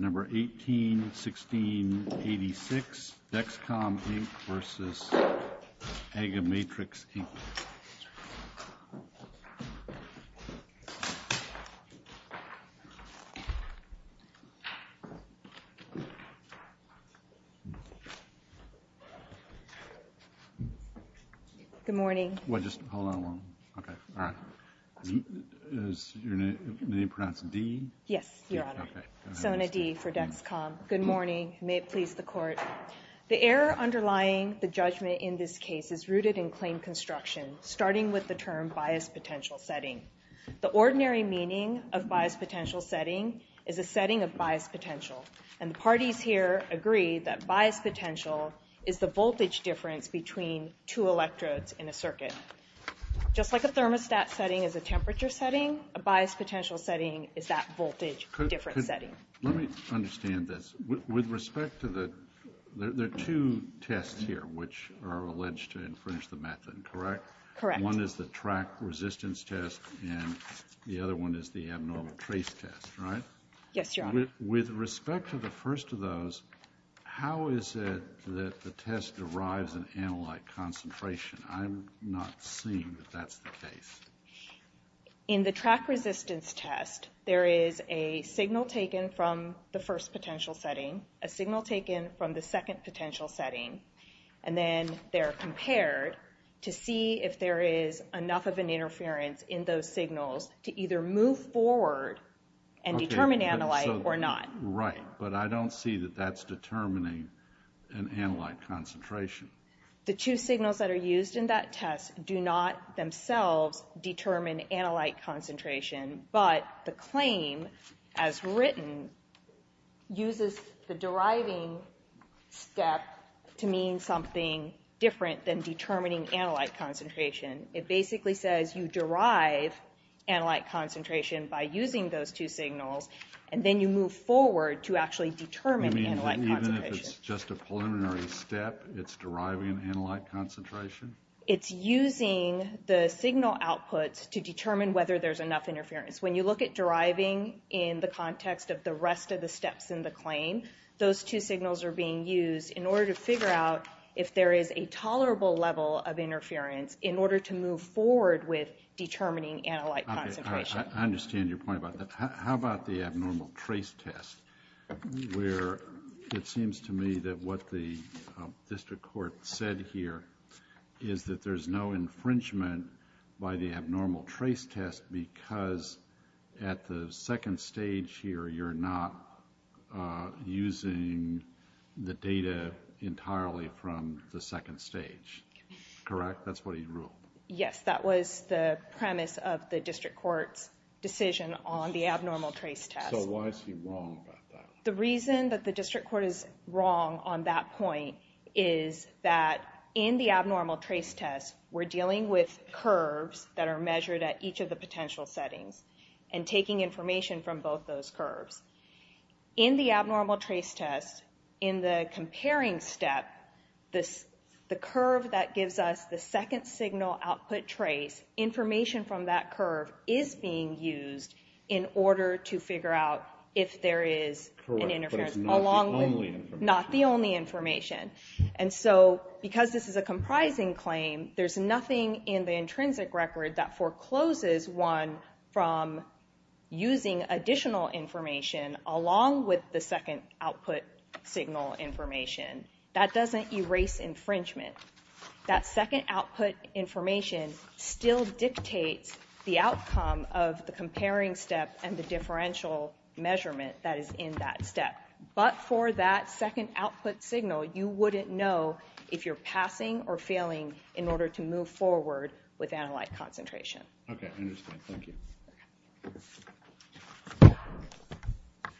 Number 181686, DexCom, Inc. v. AgaMatrix, Inc. Good morning. Well, just hold on one moment. Okay. All right. Is your name pronounced D? Yes, Your Honor. Sona D. for DexCom. Good morning. May it please the Court. The error underlying the judgment in this case is rooted in claim construction, starting with the term bias potential setting. The ordinary meaning of bias potential setting is a setting of bias potential, and the parties here agree that bias potential is the voltage difference between two electrodes in a circuit. Just like a thermostat setting is a temperature setting, a bias potential setting is that voltage difference setting. Let me understand this. With respect to the two tests here, which are alleged to infringe the method, correct? Correct. One is the track resistance test, and the other one is the abnormal trace test, right? Yes, Your Honor. With respect to the first of those, how is it that the test derives an analyte concentration? I'm not seeing that that's the case. In the track resistance test, there is a signal taken from the first potential setting, a signal taken from the second potential setting, and then they're compared to see if there is enough of an interference in those signals to either move forward and determine analyte or not. Right, but I don't see that that's determining an analyte concentration. The two signals that are used in that test do not themselves determine analyte concentration, but the claim as written uses the deriving step to mean something different than determining analyte concentration. It basically says you derive analyte concentration by using those two signals, and then you move forward to actually determine analyte concentration. Even if it's just a preliminary step, it's deriving analyte concentration? It's using the signal outputs to determine whether there's enough interference. When you look at deriving in the context of the rest of the steps in the claim, those two signals are being used in order to figure out if there is a tolerable level of interference in order to move forward with determining analyte concentration. I understand your point about that. How about the abnormal trace test, where it seems to me that what the district court said here is that there's no infringement by the abnormal trace test because at the second stage here you're not using the data entirely from the second stage, correct? That's what he ruled. Yes, that was the premise of the district court's decision on the abnormal trace test. Why is he wrong about that? The reason that the district court is wrong on that point is that in the abnormal trace test we're dealing with curves that are measured at each of the potential settings and taking information from both those curves. In the abnormal trace test, in the comparing step, the curve that gives us the second signal output trace, information from that curve is being used in order to figure out if there is an interference. Correct, but it's not the only information. Not the only information. Because this is a comprising claim, there's nothing in the intrinsic record that forecloses one from using additional information along with the second output signal information. That doesn't erase infringement. That second output information still dictates the outcome of the comparing step and the differential measurement that is in that step. But for that second output signal, you wouldn't know if you're passing or failing in order to move forward with analyte concentration. Okay, I understand. Thank you. Okay. I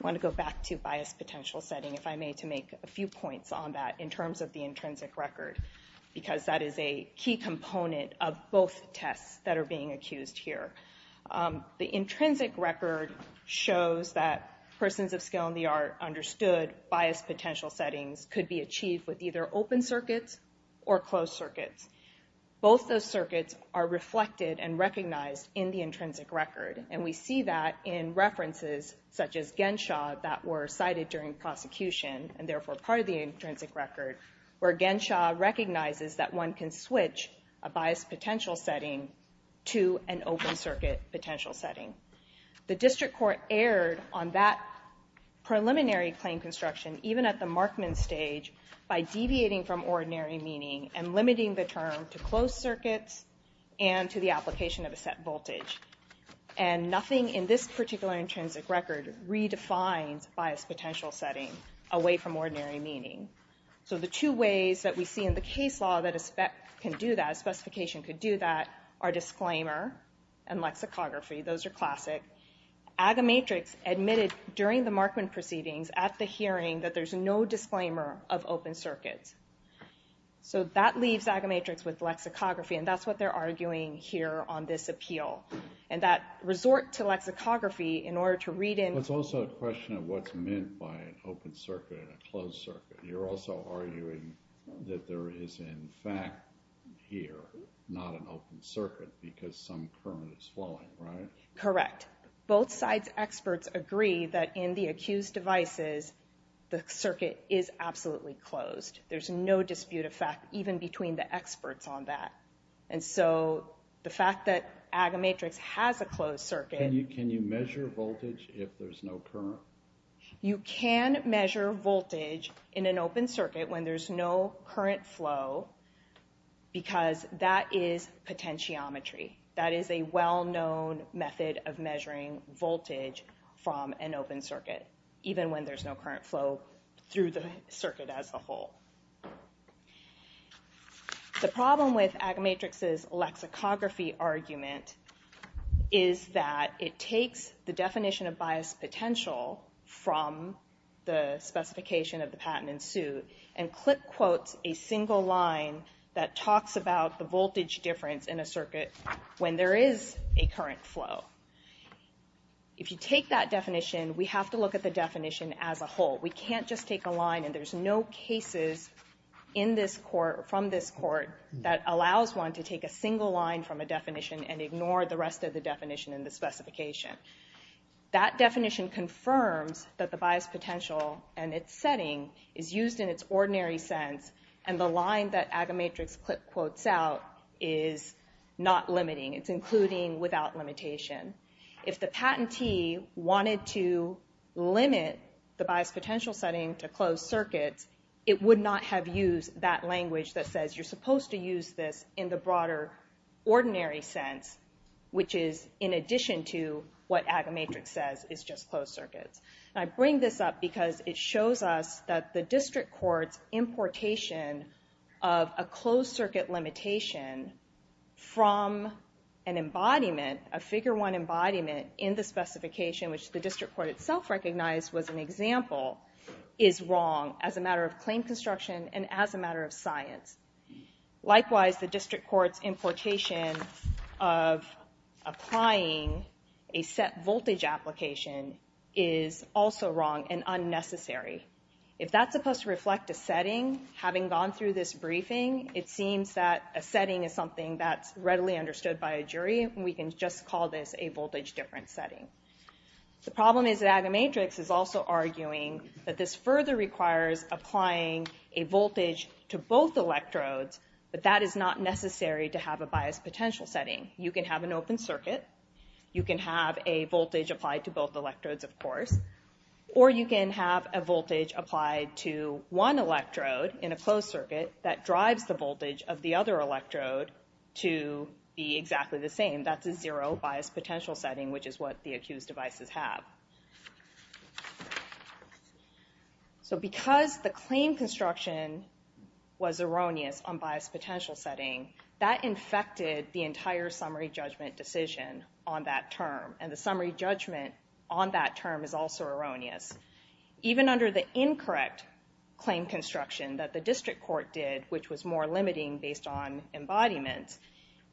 want to go back to biased potential setting, if I may, to make a few points on that in terms of the intrinsic record, because that is a key component of both tests that are being accused here. The intrinsic record shows that persons of skill and the art understood biased potential settings could be achieved with either open circuits or closed circuits. Both those circuits are reflected and recognized in the intrinsic record, and we see that in references such as Genshaw that were cited during prosecution and therefore part of the intrinsic record, where Genshaw recognizes that one can switch a biased potential setting to an open circuit potential setting. The district court erred on that preliminary claim construction, even at the Markman stage, by deviating from ordinary meaning and limiting the term to closed circuits and to the application of a set voltage. And nothing in this particular intrinsic record redefines biased potential setting away from ordinary meaning. So the two ways that we see in the case law that a spec can do that, a specification could do that, are disclaimer and lexicography. Those are classic. Agamatrix admitted during the Markman proceedings at the hearing that there's no disclaimer of open circuits. So that leaves Agamatrix with lexicography, and that's what they're arguing here on this appeal. And that resort to lexicography in order to read in... It's also a question of what's meant by an open circuit and a closed circuit. You're also arguing that there is in fact here not an open circuit because some current is flowing, right? Correct. Both sides' experts agree that in the accused devices, the circuit is absolutely closed. There's no dispute of fact even between the experts on that. And so the fact that Agamatrix has a closed circuit... Can you measure voltage if there's no current? You can measure voltage in an open circuit when there's no current flow because that is potentiometry. That is a well-known method of measuring voltage from an open circuit even when there's no current flow through the circuit as a whole. The problem with Agamatrix's lexicography argument is that it takes the definition of bias potential from the specification of the patent in suit and clip quotes a single line that talks about the voltage difference in a circuit when there is a current flow. If you take that definition, we have to look at the definition as a whole. We can't just take a line and there's no cases from this court that allows one to take a single line from a definition and ignore the rest of the definition in the specification. That definition confirms that the bias potential and its setting is used in its ordinary sense and the line that Agamatrix clip quotes out is not limiting. It's including without limitation. If the patentee wanted to limit the bias potential setting to closed circuits, it would not have used that language that says you're supposed to use this in the broader ordinary sense which is in addition to what Agamatrix says is just closed circuits. I bring this up because it shows us that the district court's importation of a closed circuit limitation from an embodiment, a figure one embodiment in the specification which the district court itself recognized was an example is wrong as a matter of claim construction and as a matter of science. Likewise, the district court's importation of applying a set voltage application is also wrong and unnecessary. If that's supposed to reflect a setting, having gone through this briefing, it seems that a setting is something that's readily understood by a jury and we can just call this a voltage difference setting. The problem is that Agamatrix is also arguing that this further requires applying a voltage to both electrodes but that is not necessary to have a bias potential setting. You can have an open circuit. You can have a voltage applied to both electrodes of course or you can have a voltage applied to one electrode in a closed circuit that drives the voltage of the other electrode to be exactly the same. That's a zero bias potential setting which is what the accused devices have. So because the claim construction was erroneous on bias potential setting, that infected the entire summary judgment decision on that term and the summary judgment on that term is also erroneous. Even under the incorrect claim construction that the district court did which was more limiting based on embodiment,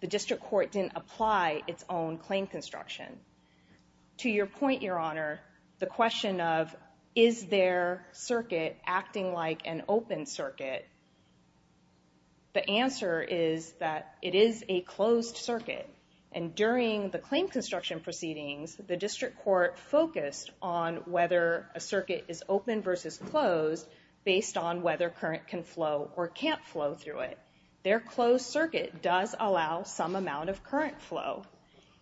the district court didn't apply its own claim construction. To your point, Your Honor, the question of is there circuit acting like an open circuit, the answer is that it is a closed circuit and during the claim construction proceedings, the district court focused on whether a circuit is open versus closed based on whether current can flow or can't flow through it. Their closed circuit does allow some amount of current flow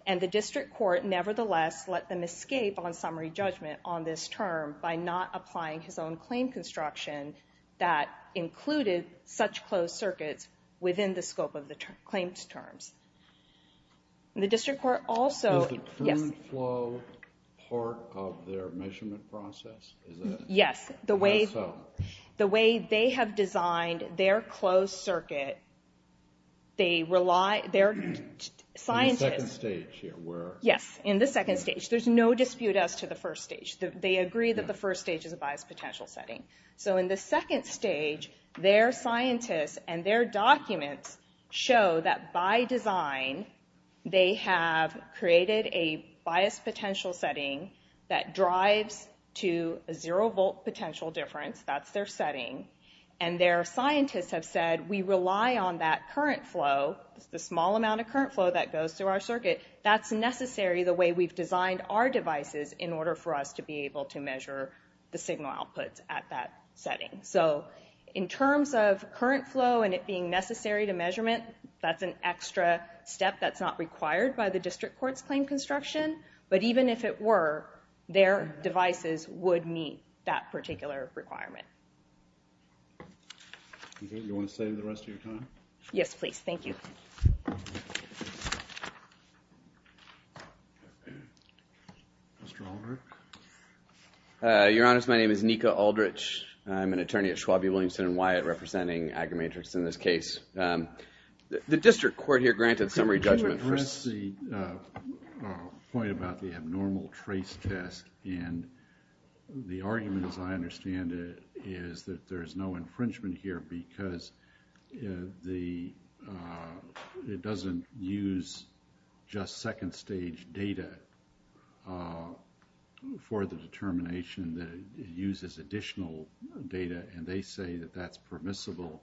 and the district court nevertheless let them escape on summary judgment on this term by not applying his own claim construction that included such closed circuits within the scope of the claims terms. The district court also... Is the current flow part of their measurement process? Yes, the way they have designed their closed circuit, they rely... In the second stage? Yes, in the second stage. There's no dispute as to the first stage. They agree that the first stage is a biased potential setting. So in the second stage, their scientists and their documents show that by design, they have created a biased potential setting that drives to a zero volt potential difference. That's their setting. And their scientists have said, we rely on that current flow, the small amount of current flow that goes through our circuit. That's necessary the way we've designed our devices in order for us to be able to measure the signal output at that setting. So in terms of current flow and it being necessary to measurement, that's an extra step that's not required by the district court's claim construction. But even if it were, their devices would meet that particular requirement. You want to stay the rest of your time? Yes, please. Thank you. Mr. Aldrich? Your Honor, my name is Nika Aldrich. I'm an attorney at Schwab v. Williamson & Wyatt representing AgriMatrix in this case. The district court here granted summary judgment. Could you address the point about the abnormal trace test? And the argument, as I understand it, is that there is no infringement here because it doesn't use just second stage data for the determination that it uses additional data and they say that that's permissible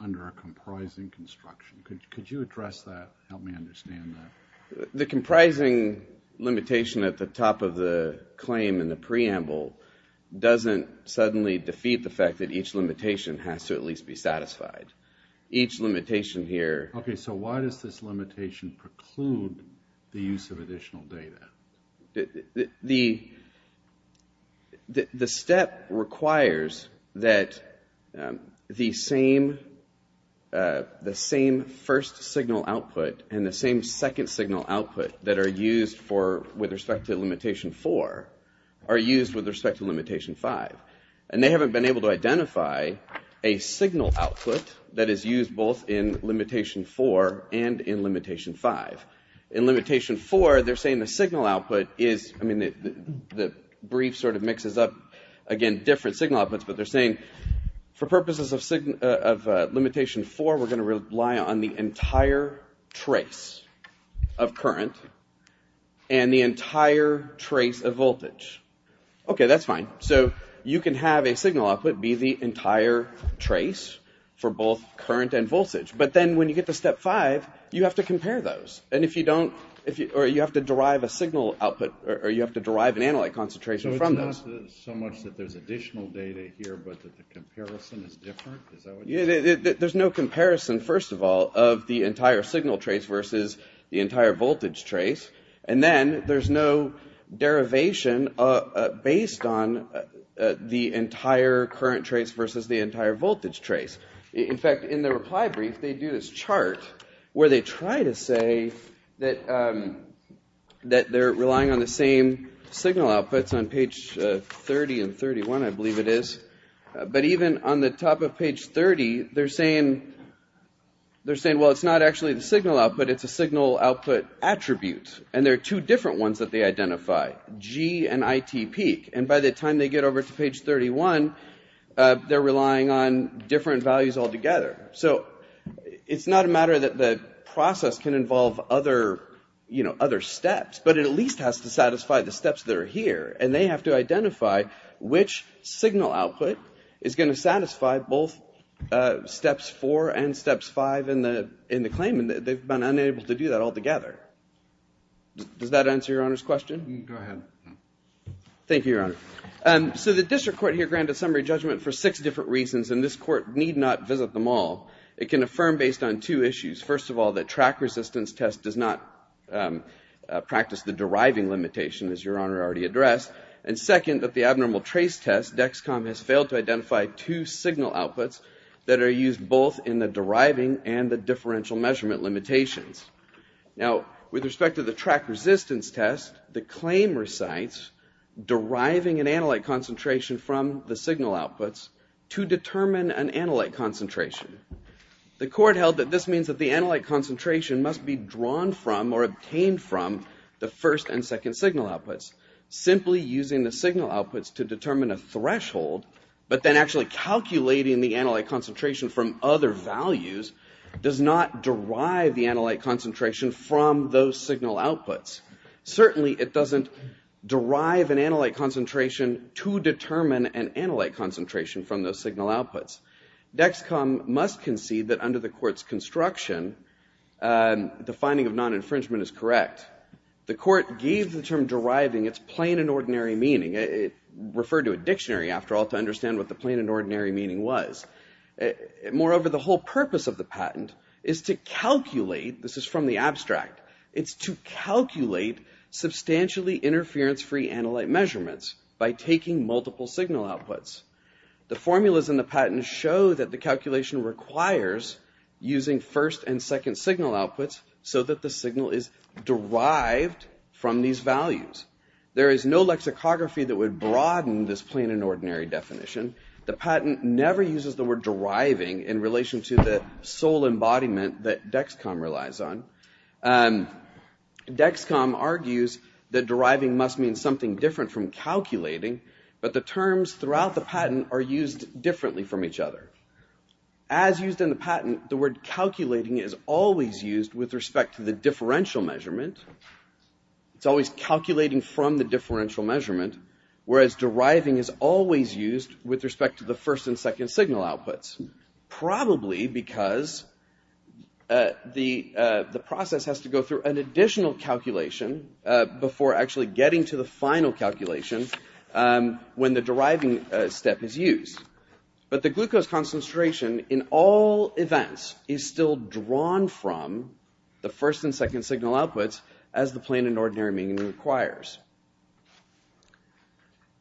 under a comprising construction. Could you address that? Help me understand that. The comprising limitation at the top of the claim in the preamble doesn't suddenly defeat the fact that each limitation has to at least be satisfied. Each limitation here... Okay, so why does this limitation preclude the use of additional data? The step requires that the same first signal output and the same second signal output that are used with respect to limitation 4 are used with respect to limitation 5. And they haven't been able to identify a signal output that is used both in limitation 4 and in limitation 5. In limitation 4, they're saying the signal output is... I mean, the brief sort of mixes up, again, different signal outputs, but they're saying for purposes of limitation 4, we're going to rely on the entire trace of current and the entire trace of voltage. Okay, that's fine. So you can have a signal output be the entire trace for both current and voltage, but then when you get to step 5, you have to compare those. Or you have to derive a signal output, or you have to derive an analyte concentration from those. So it's not so much that there's additional data here, but that the comparison is different? There's no comparison, first of all, of the entire signal trace versus the entire voltage trace. And then there's no derivation based on the entire current trace versus the entire voltage trace. In fact, in the reply brief, they do this chart where they try to say that they're relying on the same signal outputs on page 30 and 31, I believe it is. But even on the top of page 30, they're saying, well, it's not actually the signal output, it's a signal output attribute. And there are two different ones that they identify, G and IT peak. And by the time they get over to page 31, they're relying on different values altogether. So it's not a matter that the process can involve other steps, but it at least has to satisfy the steps that are here. And they have to identify which signal output is going to satisfy both steps 4 and steps 5 in the claim, and they've been unable to do that altogether. Does that answer Your Honor's question? Go ahead. Thank you, Your Honor. So the district court here granted summary judgment for six different reasons, and this court need not visit them all. It can affirm based on two issues. First of all, that track resistance test does not practice the deriving limitation, as Your Honor already addressed. And second, that the abnormal trace test, DEXCOM, has failed to identify two signal outputs that are used both in the deriving and the differential measurement limitations. Now, with respect to the track resistance test, the claim recites deriving an analyte concentration from the signal outputs to determine an analyte concentration. The court held that this means that the analyte concentration must be drawn from or obtained from the first and second signal outputs. Simply using the signal outputs to determine a threshold, but then actually calculating the analyte concentration from other values, does not derive the analyte concentration from those signal outputs. Certainly, it doesn't derive an analyte concentration to determine an analyte concentration from those signal outputs. DEXCOM must concede that under the court's construction, the finding of non-infringement is correct. The court gave the term deriving its plain and ordinary meaning. It referred to a dictionary, after all, to understand what the plain and ordinary meaning was. Moreover, the whole purpose of the patent is to calculate, this is from the abstract, it's to calculate substantially interference-free analyte measurements by taking multiple signal outputs. The formulas in the patent show that the calculation requires using first and second signal outputs so that the signal is derived from these values. There is no lexicography that would broaden this plain and ordinary definition. The patent never uses the word deriving in relation to the sole embodiment that DEXCOM relies on. DEXCOM argues that deriving must mean something different from calculating, but the terms throughout the patent are used differently from each other. As used in the patent, the word calculating is always used with respect to the differential measurement. It's always calculating from the differential measurement, whereas deriving is always used with respect to the first and second signal outputs, probably because the process has to go through an additional calculation before actually getting to the final calculation when the deriving step is used. But the glucose concentration in all events is still drawn from the first and second signal outputs as the plain and ordinary meaning requires.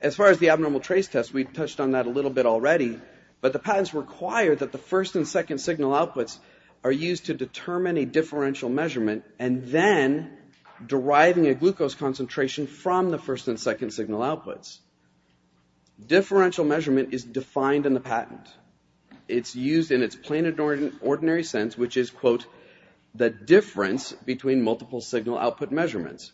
As far as the abnormal trace test, we've touched on that a little bit already, but the patents require that the first and second signal outputs are used to determine a differential measurement and then deriving a glucose concentration from the first and second signal outputs. Differential measurement is defined in the patent. It's used in its plain and ordinary sense, which is, quote, the difference between multiple signal output measurements.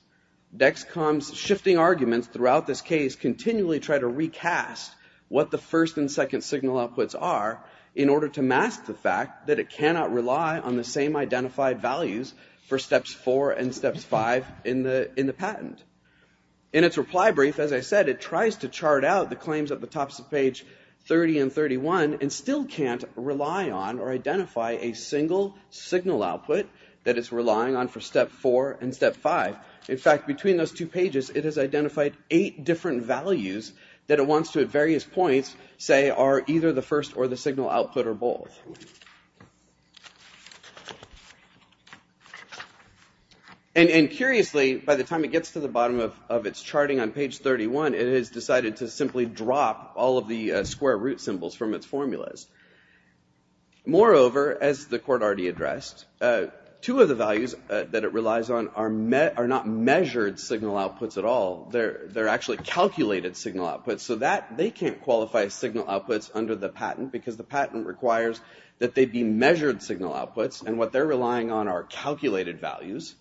DEXCOM's shifting arguments throughout this case continually try to recast what the first and second signal outputs are in order to mask the fact that it cannot rely on the same identified values for steps four and steps five in the patent. In its reply brief, as I said, it tries to chart out the claims at the tops of page 30 and 31 and still can't rely on or identify a single signal output that it's relying on for step four and step five. In fact, between those two pages, it has identified eight different values that it wants to, at various points, say are either the first or the signal output or both. And curiously, by the time it gets to the bottom of its charting on page 31, it has decided to simply drop all of the square root symbols from its formulas. Moreover, as the court already addressed, two of the values that it relies on are not measured signal outputs at all. They're actually calculated signal outputs, so they can't qualify signal outputs under the patent because the patent requires that they be measured signal outputs, and what they're relying on are calculated values.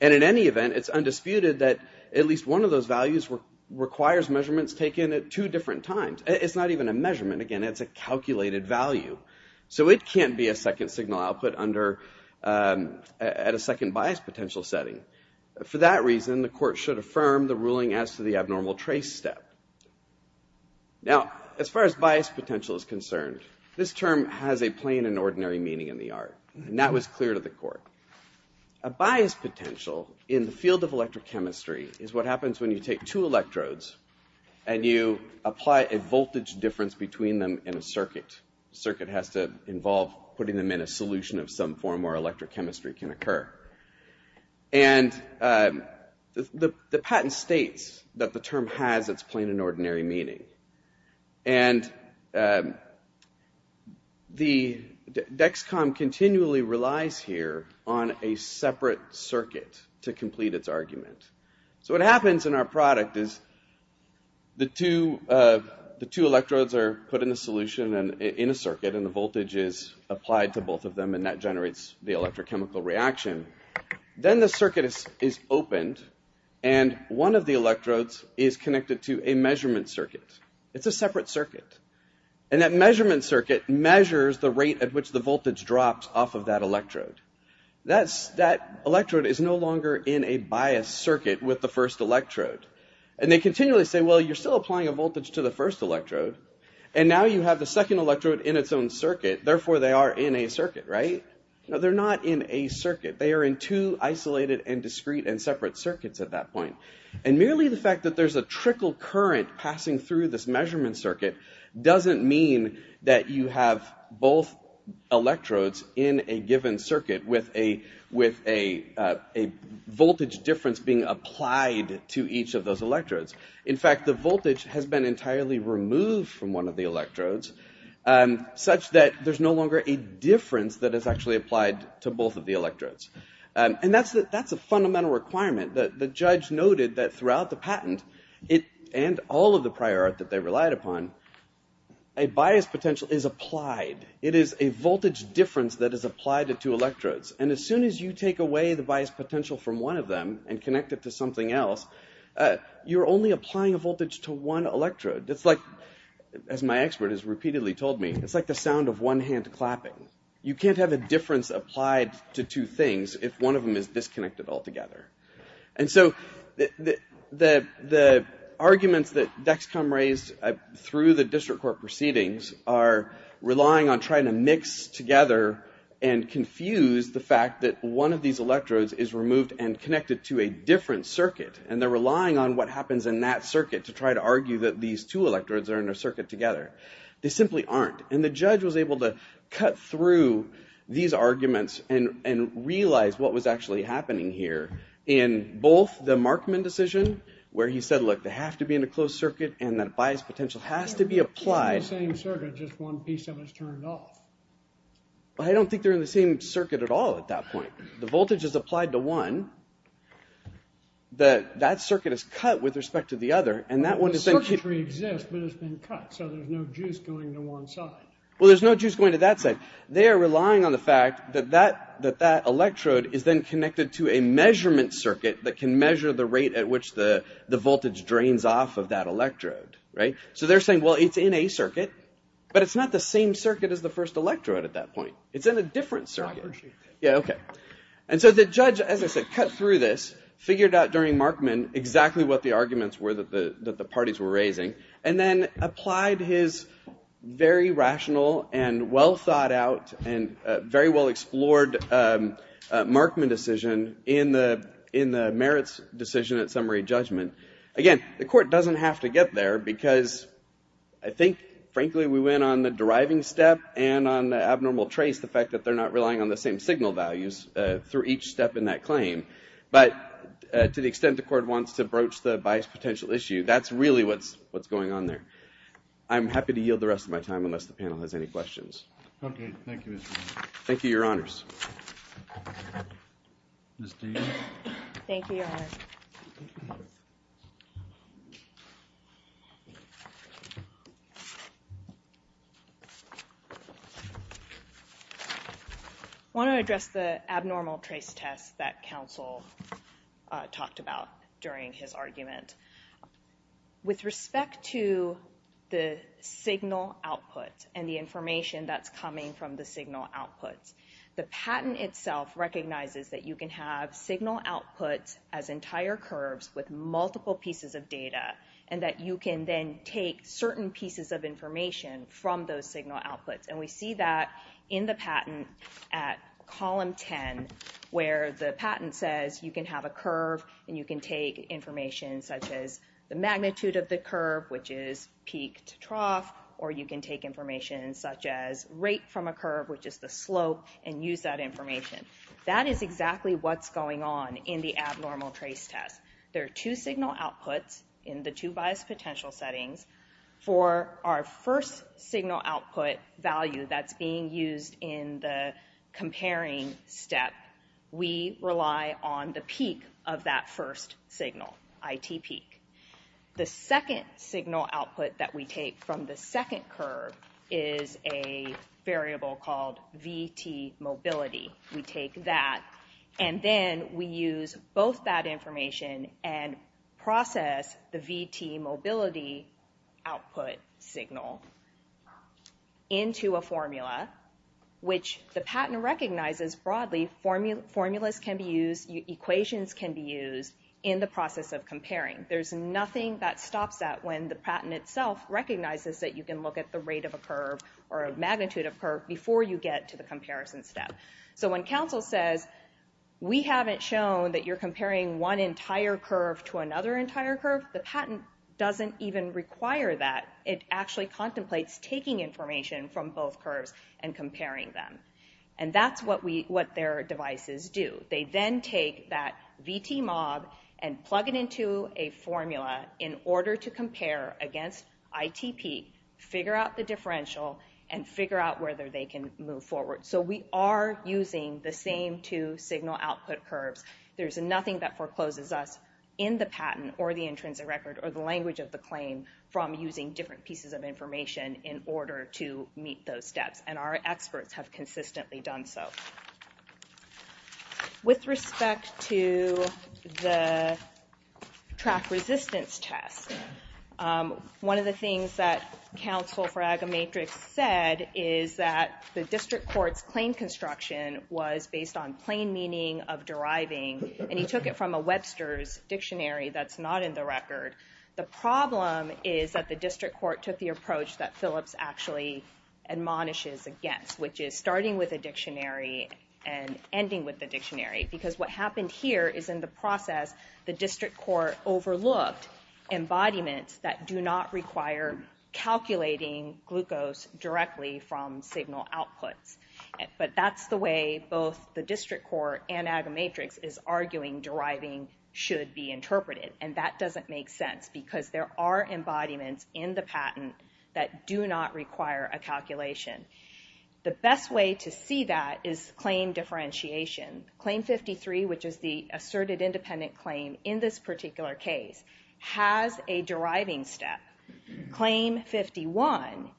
And in any event, it's undisputed that at least one of those values requires measurements taken at two different times. It's not even a measurement. Again, it's a calculated value. So it can't be a second signal output at a second bias potential setting. For that reason, the court should affirm the ruling as to the abnormal trace step. Now, as far as bias potential is concerned, this term has a plain and ordinary meaning in the art, and that was clear to the court. A bias potential in the field of electrochemistry is what happens when you take two electrodes and you apply a voltage difference between them in a circuit. Circuit has to involve putting them in a solution of some form where electrochemistry can occur. And the patent states that the term has its plain and ordinary meaning. And the DEXCOM continually relies here on a separate circuit to complete its argument. So what happens in our product is the two electrodes are put in a solution in a circuit, and the voltage is applied to both of them, and that generates the electrochemical reaction. Then the circuit is opened, and one of the electrodes is connected to a measurement circuit. It's a separate circuit. And that measurement circuit measures the rate at which the voltage drops off of that electrode. That electrode is no longer in a biased circuit with the first electrode. And they continually say, well, you're still applying a voltage to the first electrode, and now you have the second electrode in its own circuit, therefore they are in a circuit, right? No, they're not in a circuit. They are in two isolated and discrete and separate circuits at that point. And merely the fact that there's a trickle current passing through this measurement circuit doesn't mean that you have both electrodes in a given circuit with a voltage difference being applied to each of those electrodes. In fact, the voltage has been entirely removed from one of the electrodes, such that there's no longer a difference that is actually applied to both of the electrodes. And that's a fundamental requirement. The judge noted that throughout the patent, and all of the prior art that they relied upon, a biased potential is applied. It is a voltage difference that is applied to two electrodes. And as soon as you take away the biased potential from one of them and connect it to something else, you're only applying a voltage to one electrode. It's like, as my expert has repeatedly told me, it's like the sound of one hand clapping. You can't have a difference applied to two things if one of them is disconnected altogether. And so the arguments that Dexcom raised through the district court proceedings are relying on trying to mix together and confuse the fact that one of these electrodes is removed and connected to a different circuit. And they're relying on what happens in that circuit to try to argue that these two electrodes are in a circuit together. They simply aren't. And the judge was able to cut through these arguments and realize what was actually happening here in both the Markman decision, where he said, look, they have to be in a closed circuit and that biased potential has to be applied. But I don't think they're in the same circuit at all at that point. The voltage is applied to one. That circuit is cut with respect to the other. But the circuitry exists, but it's been cut, so there's no juice going to one side. Well, there's no juice going to that side. They're relying on the fact that that electrode is then connected to a measurement circuit that can measure the rate at which the voltage drains off of that electrode. So they're saying, well, it's in a circuit, but it's not the same circuit as the first electrode at that point. It's in a different circuit. And so the judge, as I said, cut through this, figured out during Markman exactly what the arguments were that the parties were raising, and then applied his very rational and well-thought-out and very well-explored Markman decision in the merits decision at summary judgment. Again, the court doesn't have to get there because I think, frankly, we went on the deriving step and on the abnormal trace, the fact that they're not relying on the same signal values through each step in that claim. But to the extent the court wants to broach the bias potential issue, that's really what's going on there. I'm happy to yield the rest of my time unless the panel has any questions. Okay. Thank you. Thank you, Your Honors. Thank you, Your Honors. I want to address the abnormal trace test that counsel talked about during his argument. With respect to the signal output and the information that's coming from the signal outputs, the patent itself recognizes that you can have signal outputs as entire curves with multiple pieces of data, and that you can then take certain pieces of information from those signal outputs. We see that in the patent at column 10, where the patent says you can have a curve and you can take information such as the magnitude of the curve, which is peak to trough, or you can take information such as rate from a curve, which is the slope, and use that information. That is exactly what's going on in the abnormal trace test. There are two signal outputs in the two bias potential settings. For our first signal output value that's being used in the comparing step, we rely on the peak of that first signal, IT peak. The second signal output that we take from the second curve is a variable called VT mobility. We take that, and then we use both that information and process the VT mobility output signal into a formula, which the patent recognizes broadly formulas can be used, equations can be used in the process of comparing. There's nothing that stops that when the patent itself recognizes that you can look at the rate of a curve or magnitude of a curve before you get to the comparison step. When counsel says we haven't shown that you're comparing one entire curve to another entire curve, the patent doesn't even require that. It actually contemplates taking information from both curves and comparing them. That's what their devices do. They then take that VT mob and plug it into a formula in order to compare against IT peak, figure out the differential, and figure out whether they can move forward. We are using the same two signal output curves. There's nothing that forecloses us in the patent or the intrinsic record or the language of the claim from using different pieces of information in order to meet those steps, and our experts have consistently done so. With respect to the track resistance test, one of the things that counsel for Agamatrix said is that the district court's claim construction was based on plain meaning of deriving, and he took it from a Webster's dictionary that's not in the record. The problem is that the district court took the approach that Phillips actually admonishes against, which is starting with a dictionary and ending with the dictionary. Because what happened here is in the process the district court overlooked embodiments that do not require calculating glucose directly from signal outputs. But that's the way both the district court and Agamatrix is arguing deriving should be interpreted, and that doesn't make sense because there are embodiments in the patent that do not require a calculation. The best way to see that is claim differentiation. Claim 53, which is the asserted independent claim in this particular case, has a deriving step. Claim 51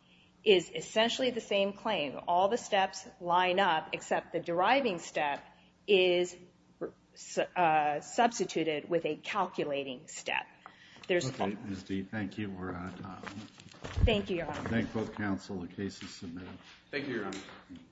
is essentially the same claim. All the steps line up except the deriving step is substituted with a calculating step. Thank you. I thank both counsel. The case is submitted.